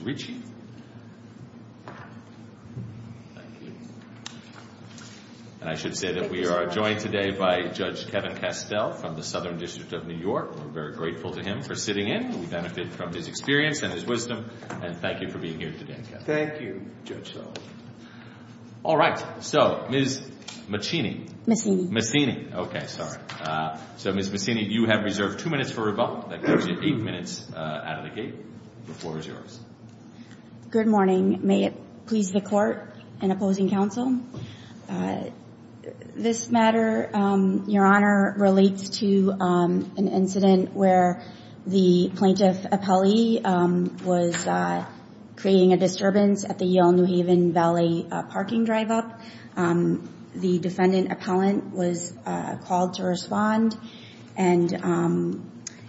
And I should say that we are joined today by Judge Kevin Castell from the Southern District of New York. We're very grateful to him for sitting in. We benefit from his experience and his wisdom, and thank you for being here today, Kevin. Thank you, Judge Sullivan. All right. So, Ms. Macini. Macini. Macini. Okay, sorry. So, Ms. Macini, you have reserved two minutes for rebuttal. That gives Good morning. May it please the court and opposing counsel, this matter, Your Honor, relates to an incident where the plaintiff appellee was creating a disturbance at the Yale New Haven Valley parking drive-up. The defendant appellant was called to respond and,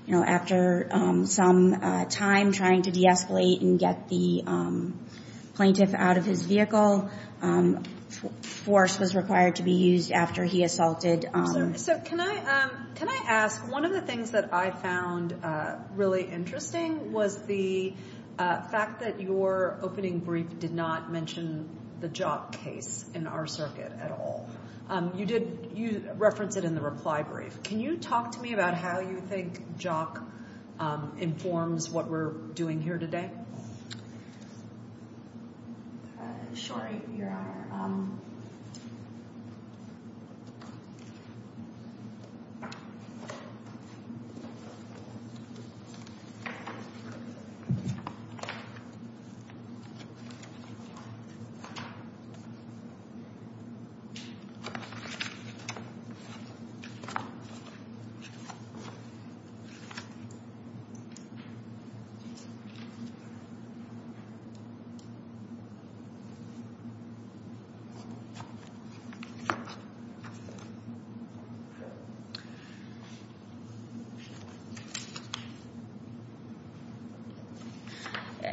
you know, after some time trying to de-escalate and get the plaintiff out of his vehicle, force was required to be used after he assaulted. So, can I ask, one of the things that I found really interesting was the fact that your opening brief did not mention the job case in our circuit at all. You reference it in the reply brief. Can you talk to me about how you think JOC informs what we're doing here today? Sure, Your Honor.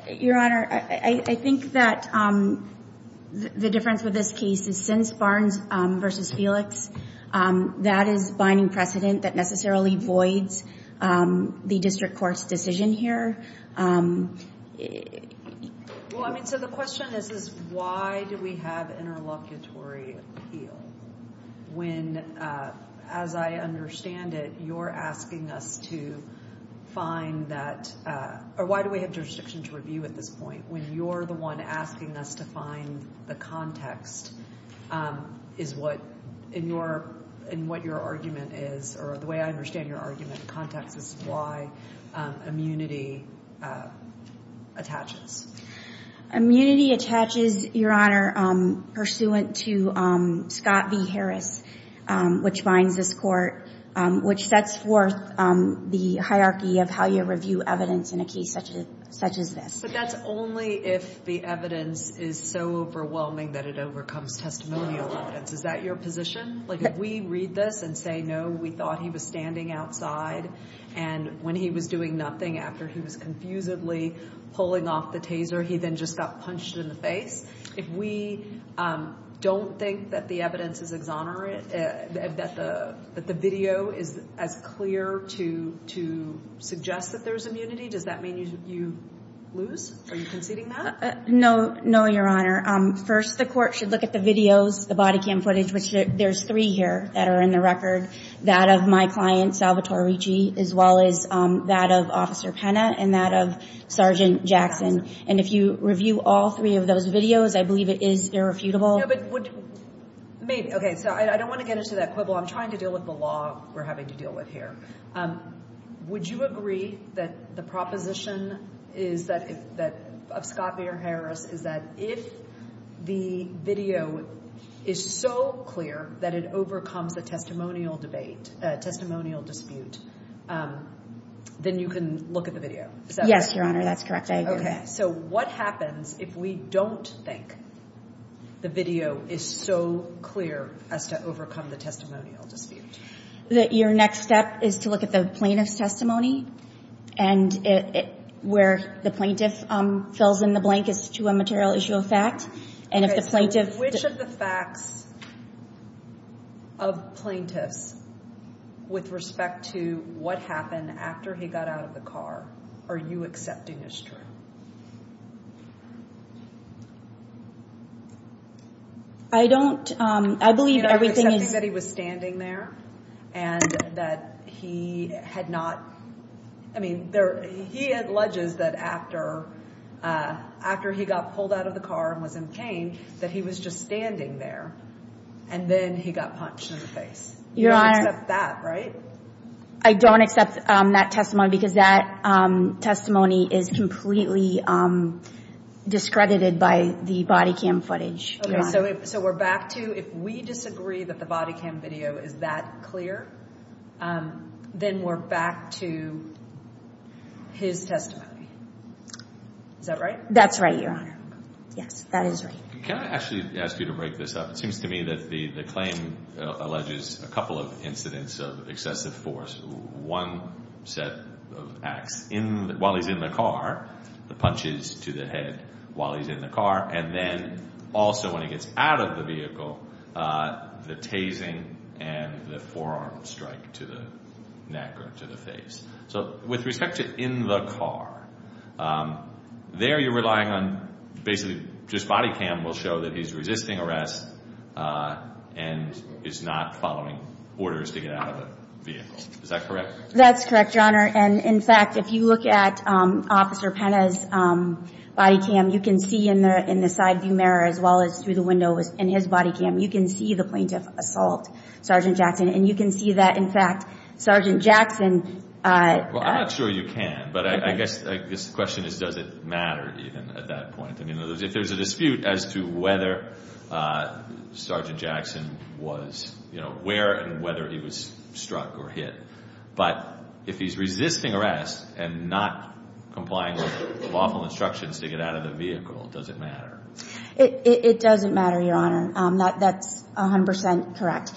Your Honor, I think that the difference with this case is since Barnes v. Felix, that is a binding precedent that necessarily voids the district court's decision here. Well, I mean, so the question is, why do we have interlocutory appeal when, as I understand it, you're asking us to find that, or why do we have jurisdiction to review at this point when you're the one asking us to find the context is what, in your, in what your argument is, or the way I understand your argument, context is why immunity attaches. Immunity attaches, Your Honor, pursuant to Scott v. Harris, which binds this court, which sets forth the hierarchy of how you review evidence in a case such as this. But that's only if the evidence is so overwhelming that it overcomes testimonial evidence. Is that your position? Like, if we read this and say, no, we thought he was standing outside, and when he was doing nothing after he was confusedly pulling off the taser, he then just got punched in the face, if we don't think that the evidence is exonerant, that the video is as clear to suggest that there's immunity, does that mean you lose? Are you conceding that? No, no, Your Honor. First, the court should look at the videos, the body cam footage, which there's three here that are in the record, that of my client, Salvatore Ricci, as well as that of Officer Penna and that of Sergeant Jackson. And if you review all three of those videos, I believe it is irrefutable. No, but would, maybe, okay, so I don't want to get into that quibble. I'm trying to deal with the law we're having to deal with here. Would you agree that the proposition is that, of Scott Peter Harris, is that if the video is so clear that it overcomes a testimonial debate, a testimonial dispute, then you can look at the video? Yes, Your Honor, that's correct, I agree with that. Okay, so what happens if we don't think the video is so clear as to overcome the testimonial dispute? Your next step is to look at the plaintiff's testimony and where the plaintiff fills in the blank as to a material issue of fact. Okay, so which of the facts of plaintiffs with respect to what happened after he got out of the car are you accepting as true? I don't, I believe everything is... Are you accepting that he was standing there and that he had not, I mean, he alleges that after he got pulled out of the car and was in pain, that he was just standing there and then he got punched in the face. Your Honor... You don't accept that, right? I don't accept that testimony because that testimony is completely discredited by the body cam footage. Okay, so we're back to if we disagree that the body cam video is that clear, then we're back to his testimony. Is that right? That's right, Your Honor. Yes, that is right. Can I actually ask you to break this up? It seems to me that the claim alleges a couple of incidents of excessive force. One set of acts while he's in the car, the punches to the head while he's in the car, and then also when he gets out of the vehicle, the tasing and the forearm strike to the neck or to the face. So with respect to in the car, there you're relying on basically just body cam will show that he's resisting arrest and is not following orders to get out of the vehicle. Is that correct? That's correct, Your Honor. And in fact, if you look at Officer Pena's body cam, you can see in the side view mirror as well as through the window in his body cam, you can see the plaintiff assault Sergeant Jackson. And you can see that, in fact, Sergeant Jackson. Well, I'm not sure you can, but I guess the question is does it matter even at that point? I mean, if there's a dispute as to whether Sergeant Jackson was, you know, where and whether he was struck or hit. But if he's resisting arrest and not complying with lawful instructions to get out of the vehicle, does it matter? It doesn't matter, Your Honor. That's 100 percent correct.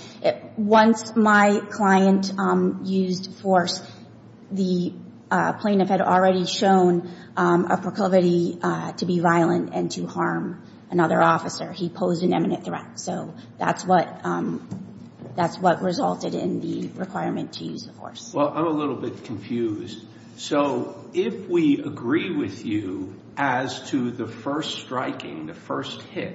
Once my client used force, the plaintiff had already shown a proclivity to be violent and to harm another officer. He posed an imminent threat. So that's what resulted in the requirement to use the force. Well, I'm a little bit confused. So if we agree with you as to the first striking, the first hit,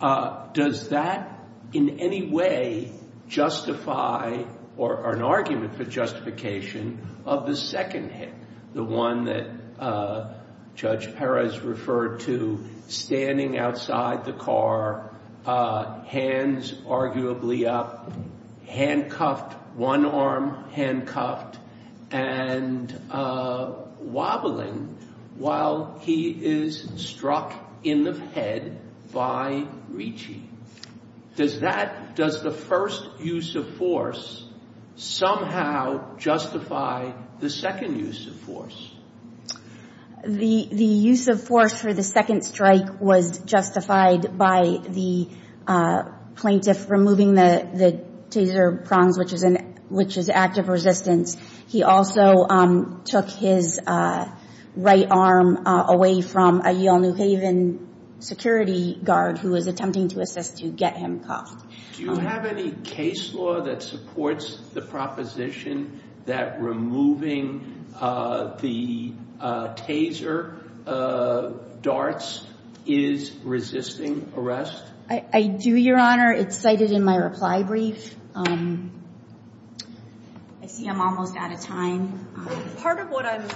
does that in any way justify or an argument for justification of the second hit, the one that Judge Perez referred to, standing outside the car, hands arguably up, handcuffed, one arm handcuffed, and wobbling while he is struck in the head by Ricci? Does that, does the first use of force somehow justify the second use of force? The use of force for the second strike was justified by the plaintiff removing the taser prongs, which is active resistance. He also took his right arm away from a Yale New Haven security guard who was attempting to assist to get him cuffed. Do you have any case law that supports the proposition that removing the taser darts is resisting arrest? I do, Your Honor. It's cited in my reply brief. I see I'm almost out of time. Part of what I'm,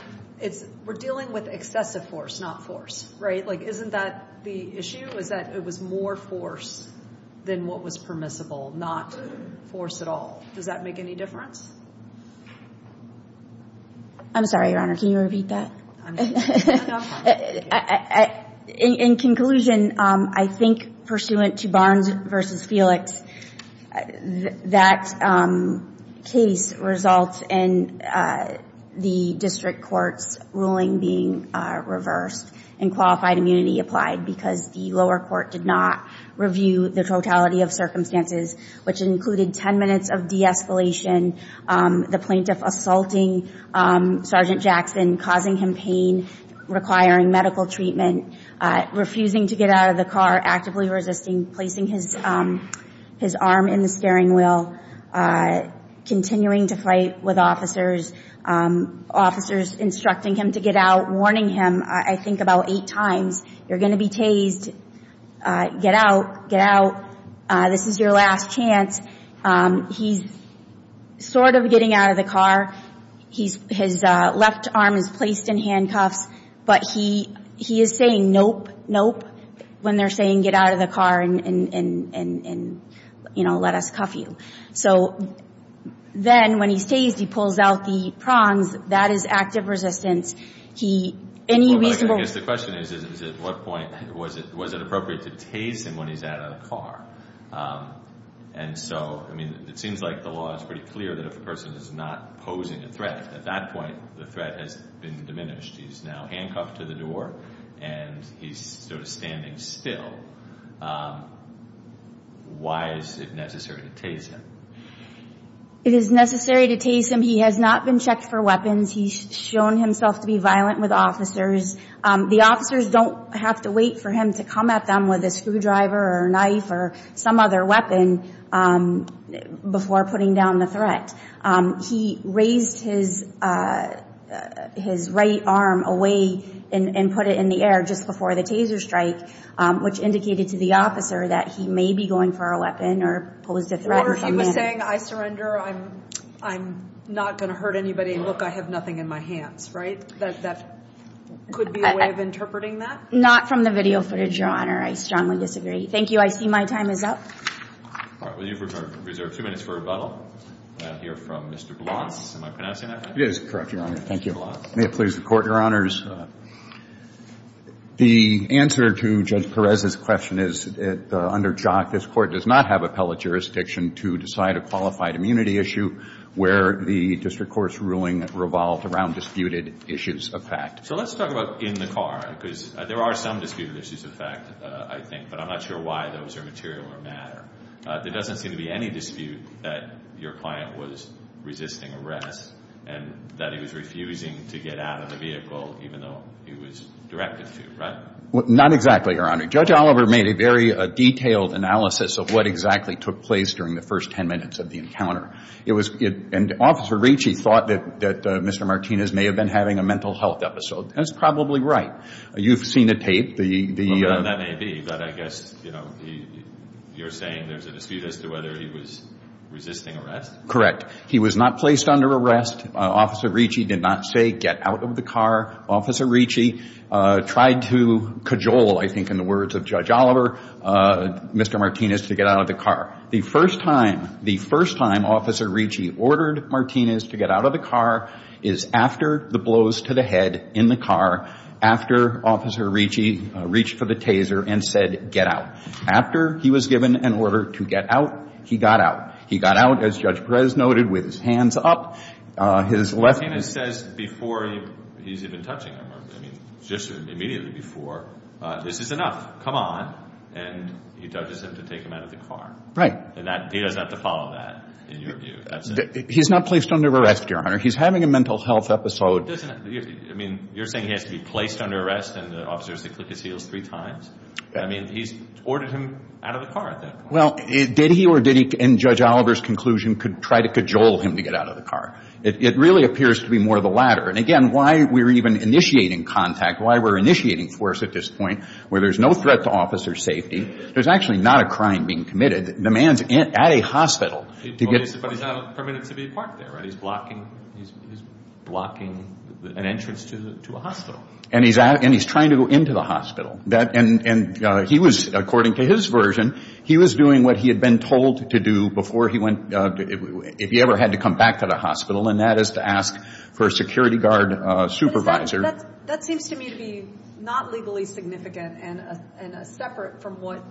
it's, we're dealing with excessive force, not force, right? Like, isn't that the issue, is that it was more force than what was permissible, not force at all. Does that make any difference? I'm sorry, Your Honor. Can you repeat that? In conclusion, I think pursuant to Barnes v. Felix, that case results in the district court's ruling being reversed and qualified immunity applied because the lower court did not review the totality of circumstances, which included ten minutes of de-escalation, the plaintiff assaulting Sergeant Jackson, causing him pain, requiring medical treatment, refusing to get out of the car, actively resisting, placing his arm in the steering wheel, continuing to fight with officers, officers instructing him to get out, warning him, I think, about eight times, you're going to be tased, get out, get out, this is your last chance. He's sort of getting out of the car. His left arm is placed in handcuffs, but he is saying nope, nope, when they're saying get out of the car and, you know, let us cuff you. So then when he's tased, he pulls out the prongs. That is active resistance. I guess the question is at what point was it appropriate to tase him when he's out of the car? And so, I mean, it seems like the law is pretty clear that if a person is not posing a threat, at that point the threat has been diminished. He's now handcuffed to the door and he's sort of standing still. Why is it necessary to tase him? It is necessary to tase him. He has not been checked for weapons. He's shown himself to be violent with officers. The officers don't have to wait for him to come at them with a screwdriver or a knife or some other weapon before putting down the threat. He raised his right arm away and put it in the air just before the taser strike, which indicated to the officer that he may be going for a weapon or posed a threat. I'm not going to hurt anybody. Look, I have nothing in my hands, right? That could be a way of interpreting that? Not from the video footage, Your Honor. I strongly disagree. Thank you. I see my time is up. All right. Well, you've reserved two minutes for rebuttal. I hear from Mr. Blunt. Am I pronouncing that right? It is correct, Your Honor. Thank you. Mr. Blunt. May it please the Court, Your Honors. The answer to Judge Perez's question is that under JOC, this Court does not have appellate jurisdiction to decide a qualified immunity issue where the district court's ruling revolved around disputed issues of fact. So let's talk about in the car because there are some disputed issues of fact, I think, but I'm not sure why those are material or matter. There doesn't seem to be any dispute that your client was resisting arrest and that he was refusing to get out of the vehicle even though he was directed to, right? Not exactly, Your Honor. Judge Oliver made a very detailed analysis of what exactly took place during the first ten minutes of the encounter. And Officer Ricci thought that Mr. Martinez may have been having a mental health episode. That's probably right. You've seen the tape. That may be, but I guess you're saying there's a dispute as to whether he was resisting arrest? Correct. He was not placed under arrest. Officer Ricci did not say, get out of the car. Officer Ricci tried to cajole, I think in the words of Judge Oliver, Mr. Martinez to get out of the car. The first time Officer Ricci ordered Martinez to get out of the car is after the blows to the head in the car, after Officer Ricci reached for the taser and said, get out. After he was given an order to get out, he got out. He got out, as Judge Perez noted, with his hands up. Martinez says before he's even touching him, I mean, just immediately before, this is enough. Come on. And he judges him to take him out of the car. Right. And he doesn't have to follow that, in your view. He's not placed under arrest, Your Honor. He's having a mental health episode. I mean, you're saying he has to be placed under arrest and the officer has to click his heels three times? I mean, he's ordered him out of the car at that point. Well, did he or did he, in Judge Oliver's conclusion, try to cajole him to get out of the car? It really appears to be more the latter. And, again, why we're even initiating contact, why we're initiating force at this point where there's no threat to officer's safety, there's actually not a crime being committed. The man's at a hospital. But he's not permitted to be parked there, right? He's blocking an entrance to a hospital. And he's trying to go into the hospital. And he was, according to his version, he was doing what he had been told to do before he went, if he ever had to come back to the hospital, and that is to ask for a security guard supervisor. That seems to me to be not legally significant and separate from what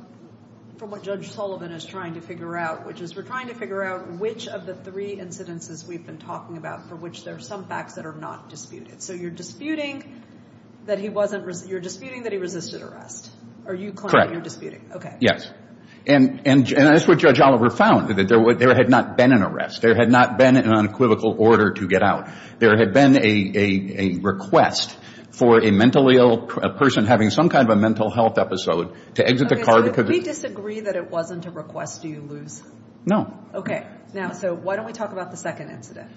Judge Sullivan is trying to figure out, which is we're trying to figure out which of the three incidences we've been talking about for which there are some facts that are not disputed. So you're disputing that he resisted arrest? Correct. Okay. And that's what Judge Oliver found, that there had not been an arrest. There had not been an unequivocal order to get out. There had been a request for a mentally ill person having some kind of a mental health episode to exit the car. Okay. So if we disagree that it wasn't a request, do you lose? No. Okay. Now, so why don't we talk about the second incident?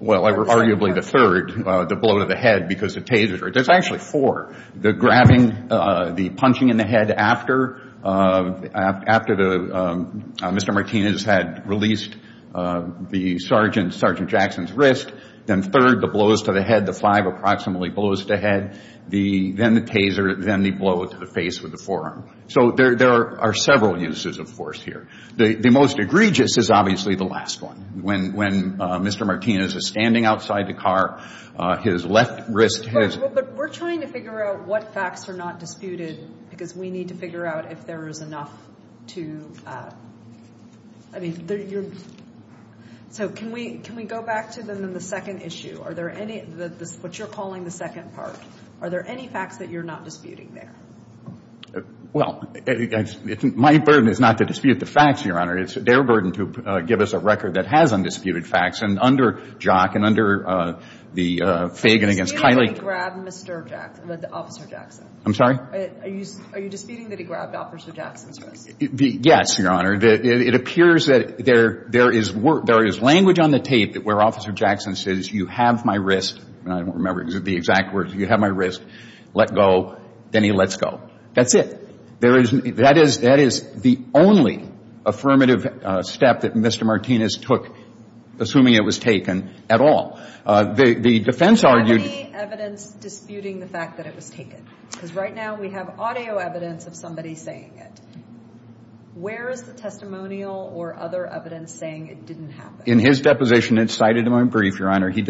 Well, arguably the third, the blow to the head because the taser. There's actually four. The grabbing, the punching in the head after Mr. Martinez had released Sergeant Jackson's wrist, then third, the blows to the head, the five approximately blows to the head, then the taser, then the blow to the face with the forearm. So there are several uses of force here. The most egregious is obviously the last one. When Mr. Martinez is standing outside the car, his left wrist has. But we're trying to figure out what facts are not disputed because we need to figure out if there is enough to... I mean, you're... So can we go back to them in the second issue? Are there any, what you're calling the second part, are there any facts that you're not disputing there? Well, my burden is not to dispute the facts, Your Honor. It's their burden to give us a record that has undisputed facts. And under Jock and under the Fagan against Kiley... Are you disputing that he grabbed Mr. Jackson, Officer Jackson? I'm sorry? Are you disputing that he grabbed Officer Jackson's wrist? Yes, Your Honor. It appears that there is language on the tape where Officer Jackson says, you have my wrist, and I don't remember the exact words, you have my wrist, let go, then he lets go. That's it. That is the only affirmative step that Mr. Martinez took, assuming it was taken, at all. The defense argued... Do you have any evidence disputing the fact that it was taken? Because right now we have audio evidence of somebody saying it. Where is the testimonial or other evidence saying it didn't happen? In his deposition, it's cited in my brief, Your Honor. He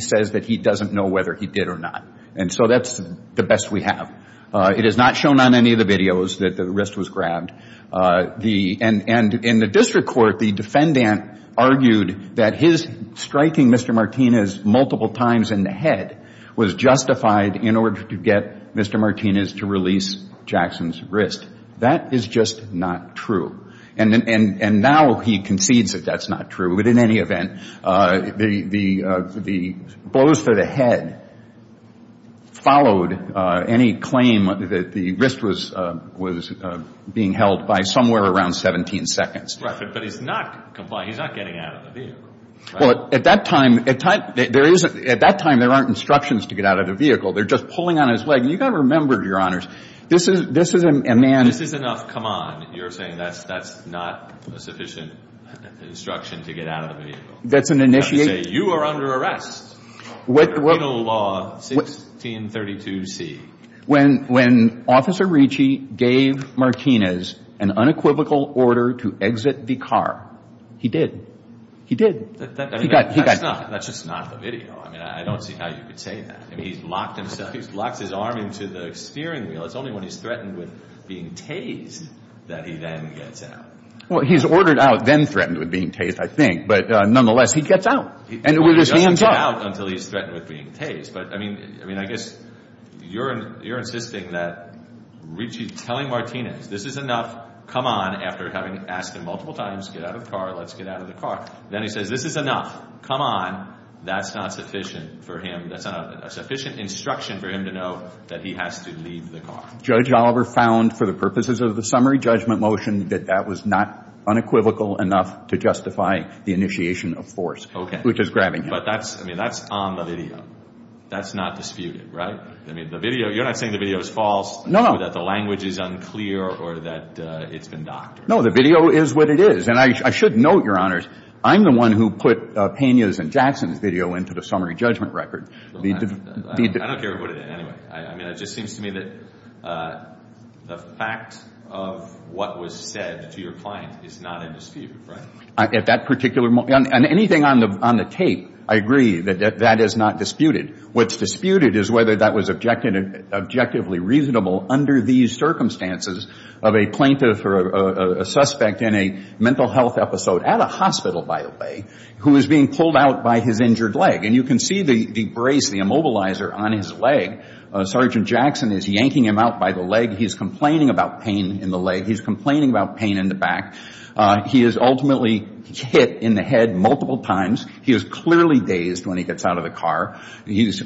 says that he doesn't know whether he did or not. And so that's the best we have. It is not shown on any of the videos that the wrist was grabbed. And in the district court, the defendant argued that his striking Mr. Martinez multiple times in the head was justified in order to get Mr. Martinez to release Jackson's wrist. That is just not true. And now he concedes that that's not true. But in any event, the blows to the head followed any claim that the wrist was being held by somewhere around 17 seconds. But he's not getting out of the vehicle. Well, at that time, there aren't instructions to get out of the vehicle. They're just pulling on his leg. And you've got to remember, Your Honors, this is a man... You've got to say, you are under arrest under penal law 1632C. When Officer Ricci gave Martinez an unequivocal order to exit the car, he did. He did. That's just not the video. I mean, I don't see how you could say that. I mean, he's locked himself. He's locked his arm into the steering wheel. It's only when he's threatened with being tased that he then gets out. Well, he's ordered out, then threatened with being tased, I think. But nonetheless, he gets out with his hands up. He doesn't get out until he's threatened with being tased. But, I mean, I guess you're insisting that Ricci's telling Martinez, this is enough, come on, after having asked him multiple times, get out of the car, let's get out of the car. Then he says, this is enough, come on. That's not sufficient for him. That's not a sufficient instruction for him to know that he has to leave the car. Judge Oliver found, for the purposes of the summary judgment motion, that that was not unequivocal enough to justify the initiation of force. Which is grabbing him. But that's on the video. That's not disputed, right? I mean, the video, you're not saying the video is false. No, no. Or that the language is unclear or that it's been doctored. No, the video is what it is. And I should note, Your Honors, I'm the one who put Pena's and Jackson's video into the summary judgment record. I don't care who did it, anyway. I mean, it just seems to me that the fact of what was said to your client is not in dispute, right? At that particular moment. And anything on the tape, I agree, that that is not disputed. What's disputed is whether that was objectively reasonable under these circumstances of a plaintiff or a suspect in a mental health episode at a hospital, by the way, who is being pulled out by his injured leg. And you can see the brace, the immobilizer on his leg. Sergeant Jackson is yanking him out by the leg. He's complaining about pain in the leg. He's complaining about pain in the back. He is ultimately hit in the head multiple times. He is clearly dazed when he gets out of the car. He is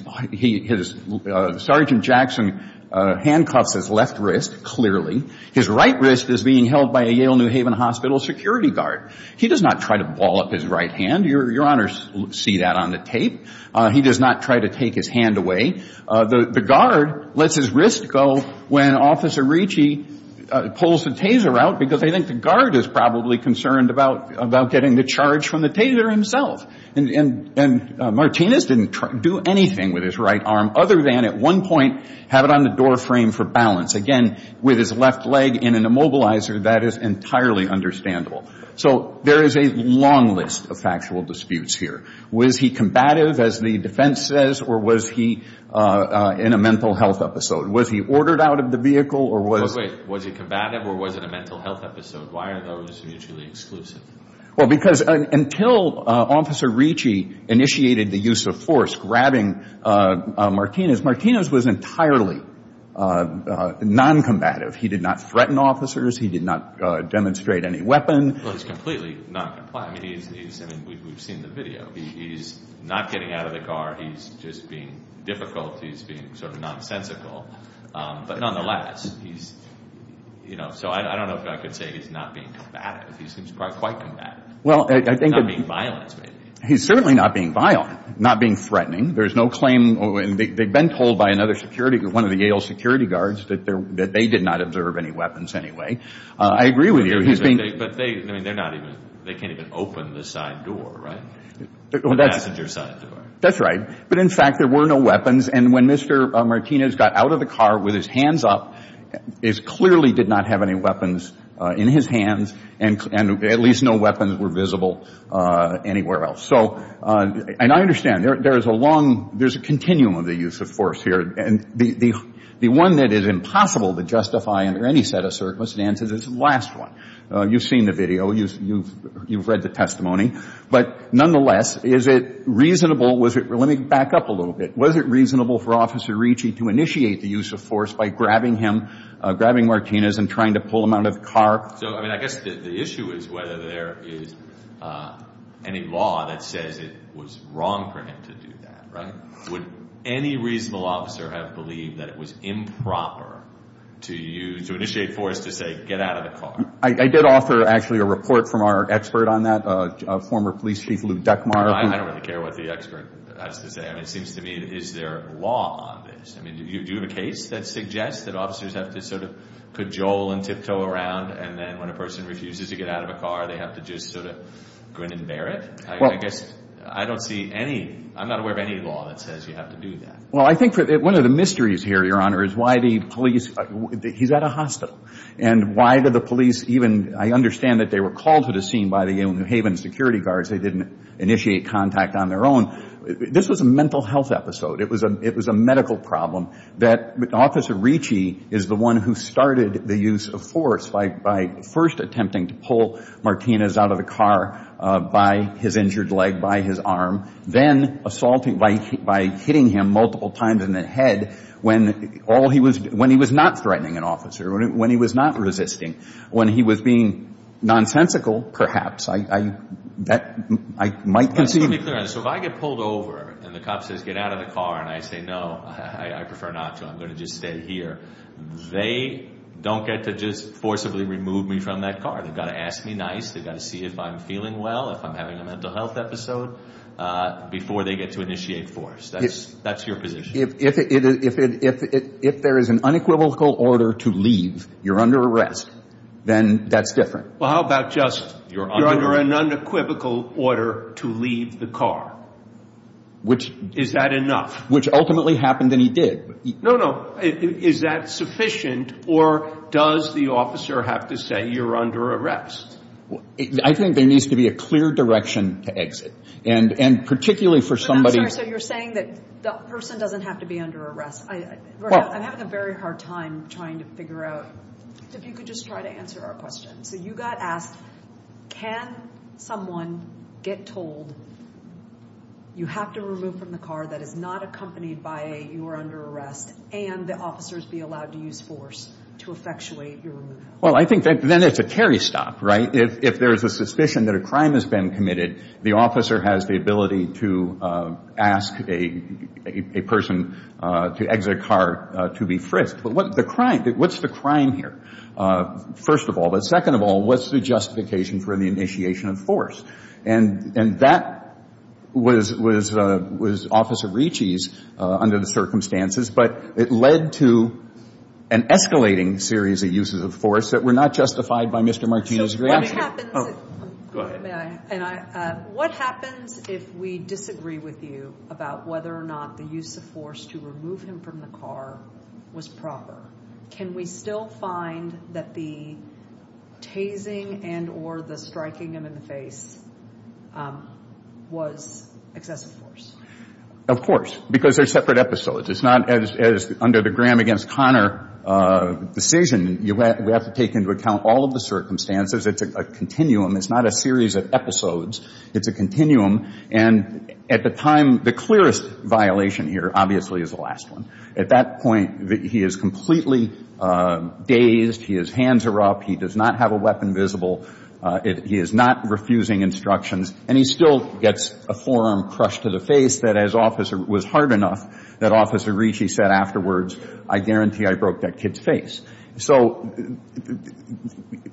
— Sergeant Jackson handcuffs his left wrist, clearly. His right wrist is being held by a Yale New Haven Hospital security guard. He does not try to ball up his right hand. Your Honors see that on the tape. He does not try to take his hand away. The guard lets his wrist go when Officer Ricci pulls the Taser out because they think the guard is probably concerned about getting the charge from the Taser himself. And Martinez didn't do anything with his right arm other than at one point have it on the door frame for balance. Again, with his left leg in an immobilizer, that is entirely understandable. So there is a long list of factual disputes here. Was he combative, as the defense says, or was he in a mental health episode? Was he ordered out of the vehicle or was — Wait, wait. Was he combative or was it a mental health episode? Why are those mutually exclusive? Well, because until Officer Ricci initiated the use of force, grabbing Martinez, Martinez was entirely noncombative. He did not threaten officers. He did not demonstrate any weapon. Well, he's completely noncompliant. I mean, he's — I mean, we've seen the video. He's not getting out of the car. He's just being difficult. He's being sort of nonsensical. But nonetheless, he's — you know, so I don't know if I could say he's not being combative. He seems quite combative. Well, I think that — Not being violent, maybe. He's certainly not being violent, not being threatening. There's no claim — and they've been told by another security — I agree with you. He's being — But they — I mean, they're not even — they can't even open the side door, right? The passenger side door. That's right. But in fact, there were no weapons. And when Mr. Martinez got out of the car with his hands up, he clearly did not have any weapons in his hands. And at least no weapons were visible anywhere else. So — and I understand. There is a long — there's a continuum of the use of force here. And the one that is impossible to justify under any set of circumstances is the last one. You've seen the video. You've read the testimony. But nonetheless, is it reasonable — let me back up a little bit. Was it reasonable for Officer Ricci to initiate the use of force by grabbing him, grabbing Martinez and trying to pull him out of the car? So, I mean, I guess the issue is whether there is any law that says it was wrong for him to do that, right? Would any reasonable officer have believed that it was improper to use — to initiate force to say, get out of the car? I did offer, actually, a report from our expert on that, former police chief Lou Deckmar. I don't really care what the expert has to say. I mean, it seems to me, is there a law on this? I mean, do you have a case that suggests that officers have to sort of cajole and tiptoe around, and then when a person refuses to get out of a car, they have to just sort of grin and bear it? I guess I don't see any — I'm not aware of any law that says you have to do that. Well, I think one of the mysteries here, Your Honor, is why the police — he's at a hospital. And why did the police even — I understand that they were called to the scene by the New Haven security guards. They didn't initiate contact on their own. This was a mental health episode. It was a medical problem that Officer Ricci is the one who started the use of force by first attempting to pull Martinez out of the car by his injured leg, by his arm, then assaulting — by hitting him multiple times in the head when all he was — when he was not threatening an officer, when he was not resisting, when he was being nonsensical, perhaps. I might concede. Let me be clear on this. So if I get pulled over and the cop says, get out of the car, and I say, no, I prefer not to. I'm going to just stay here. They don't get to just forcibly remove me from that car. They've got to ask me nice. They've got to see if I'm feeling well, if I'm having a mental health episode, before they get to initiate force. That's your position. If there is an unequivocal order to leave, you're under arrest, then that's different. Well, how about just — You're under an unequivocal order to leave the car. Which — Is that enough? Which ultimately happened, and he did. No, no. Is that sufficient, or does the officer have to say, you're under arrest? I think there needs to be a clear direction to exit. And particularly for somebody — I'm sorry. So you're saying that the person doesn't have to be under arrest. I'm having a very hard time trying to figure out if you could just try to answer our question. So you got asked, can someone get told, you have to remove from the car that is not accompanied by a, you are under arrest, and the officers be allowed to use force to effectuate your removal? Well, I think then it's a carry stop, right? If there is a suspicion that a crime has been committed, the officer has the ability to ask a person to exit a car to be frisked. But what's the crime here? First of all. But second of all, what's the justification for the initiation of force? And that was Officer Ricci's under the circumstances, but it led to an escalating series of uses of force that were not justified by Mr. Martino's reaction. So what happens — Go ahead. What happens if we disagree with you about whether or not the use of force to remove him from the car was proper? Can we still find that the tasing and or the striking him in the face was excessive force? Of course, because they're separate episodes. It's not as under the Graham against Connor decision. We have to take into account all of the circumstances. It's a continuum. It's not a series of episodes. It's a continuum. And at the time, the clearest violation here obviously is the last one. At that point, he is completely dazed. His hands are up. He does not have a weapon visible. He is not refusing instructions. And he still gets a forearm crushed to the face that, as Officer — was hard enough that Officer Ricci said afterwards, I guarantee I broke that kid's face. So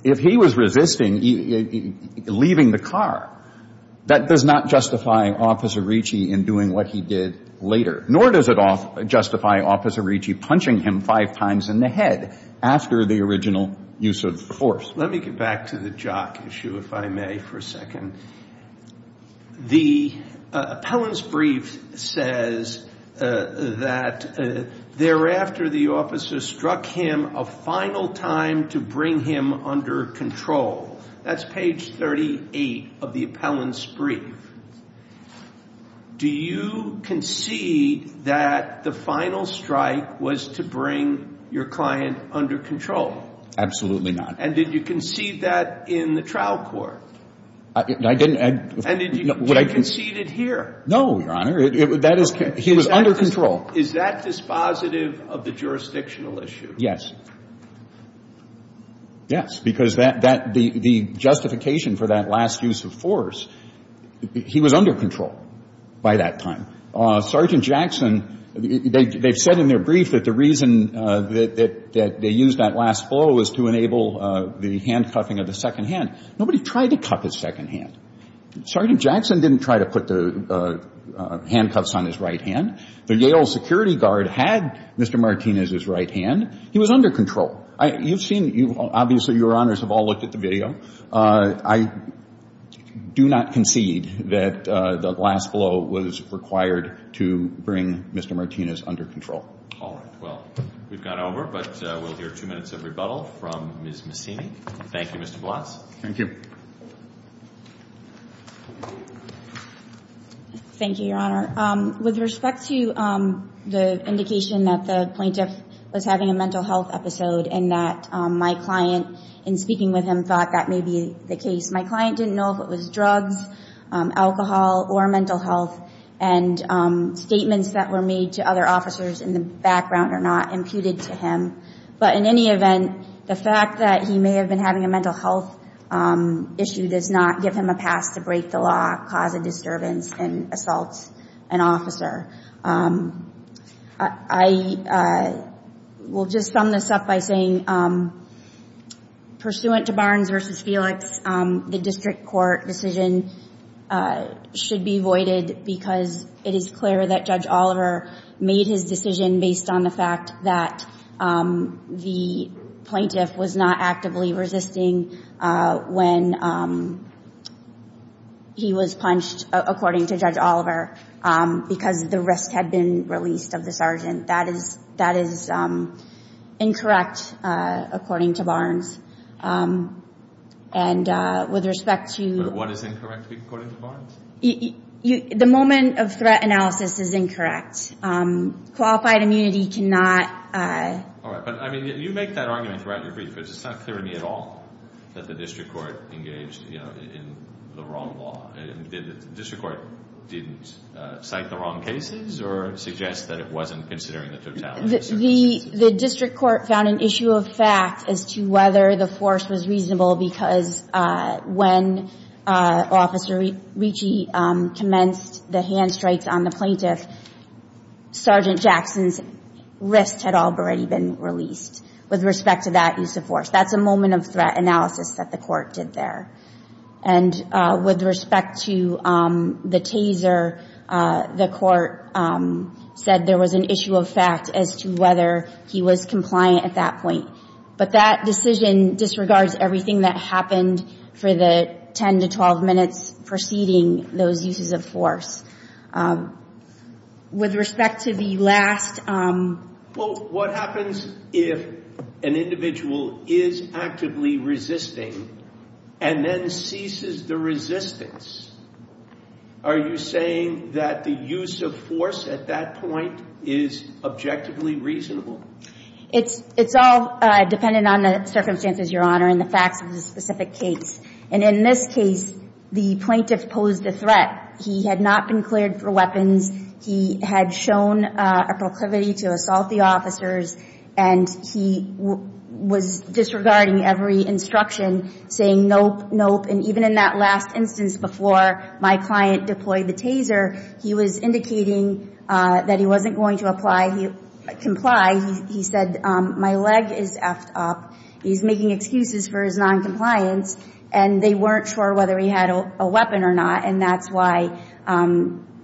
if he was resisting leaving the car, that does not justify Officer Ricci in doing what he did later, nor does it justify Officer Ricci punching him five times in the head after the original use of force. Let me get back to the jock issue, if I may, for a second. The appellant's brief says that thereafter the officer struck him a final time to bring him under control. That's page 38 of the appellant's brief. Do you concede that the final strike was to bring your client under control? Absolutely not. And did you concede that in the trial court? I didn't — And did you concede it here? No, Your Honor. That is — he was under control. Is that dispositive of the jurisdictional issue? Yes. Yes, because that — the justification for that last use of force, he was under control by that time. Sergeant Jackson — they've said in their brief that the reason that they used that last blow was to enable the handcuffing of the second hand. Nobody tried to cuff his second hand. Sergeant Jackson didn't try to put the handcuffs on his right hand. The Yale security guard had Mr. Martinez's right hand. He was under control. You've seen — obviously, Your Honors have all looked at the video. I do not concede that the last blow was required to bring Mr. Martinez under control. All right. Well, we've gone over, but we'll hear two minutes of rebuttal from Ms. Messini. Thank you, Mr. Vlas. Thank you. Thank you, Your Honor. With respect to the indication that the plaintiff was having a mental health episode and that my client, in speaking with him, thought that may be the case, my client didn't know if it was drugs, alcohol, or mental health, and statements that were made to other officers in the background are not imputed to him. But in any event, the fact that he may have been having a mental health issue does not give him a pass to break the law, cause a disturbance, and assault an officer. I will just sum this up by saying, pursuant to Barnes v. Felix, the district court decision should be voided because it is clear that Judge Oliver made his decision based on the fact that the plaintiff was not actively resisting when he was punched, according to Judge Oliver, because the wrist had been released of the sergeant. That is incorrect, according to Barnes. And with respect to... But what is incorrect, according to Barnes? The moment of threat analysis is incorrect. Qualified immunity cannot... All right, but you make that argument throughout your brief, but it's not clear to me at all that the district court engaged in the wrong law. The district court didn't cite the wrong cases or suggest that it wasn't considering the totality of circumstances? The district court found an issue of fact as to whether the force was reasonable because when Officer Ricci commenced the hand strikes on the plaintiff, Sergeant Jackson's wrist had already been released with respect to that use of force. That's a moment of threat analysis that the court did there. And with respect to the taser, the court said there was an issue of fact as to whether he was compliant at that point. But that decision disregards everything that happened for the 10 to 12 minutes preceding those uses of force. With respect to the last... Well, what happens if an individual is actively resisting and then ceases the resistance? Are you saying that the use of force at that point is objectively reasonable? It's all dependent on the circumstances, Your Honor, and the facts of the specific case. And in this case, the plaintiff posed a threat. He had not been cleared for weapons. He had shown a proclivity to assault the officers, and he was disregarding every instruction, saying, nope, nope. And even in that last instance before my client deployed the taser, he was indicating that he wasn't going to comply. He said, my leg is effed up. He's making excuses for his noncompliance, and they weren't sure whether he had a weapon or not, and that's why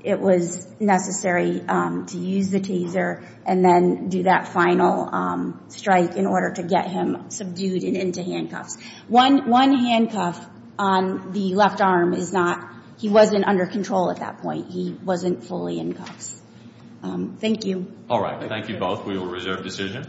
it was necessary to use the taser and then do that final strike in order to get him subdued and into handcuffs. One handcuff on the left arm is not... He wasn't under control at that point. He wasn't fully in cuffs. Thank you. All right, thank you both. We will reserve decision.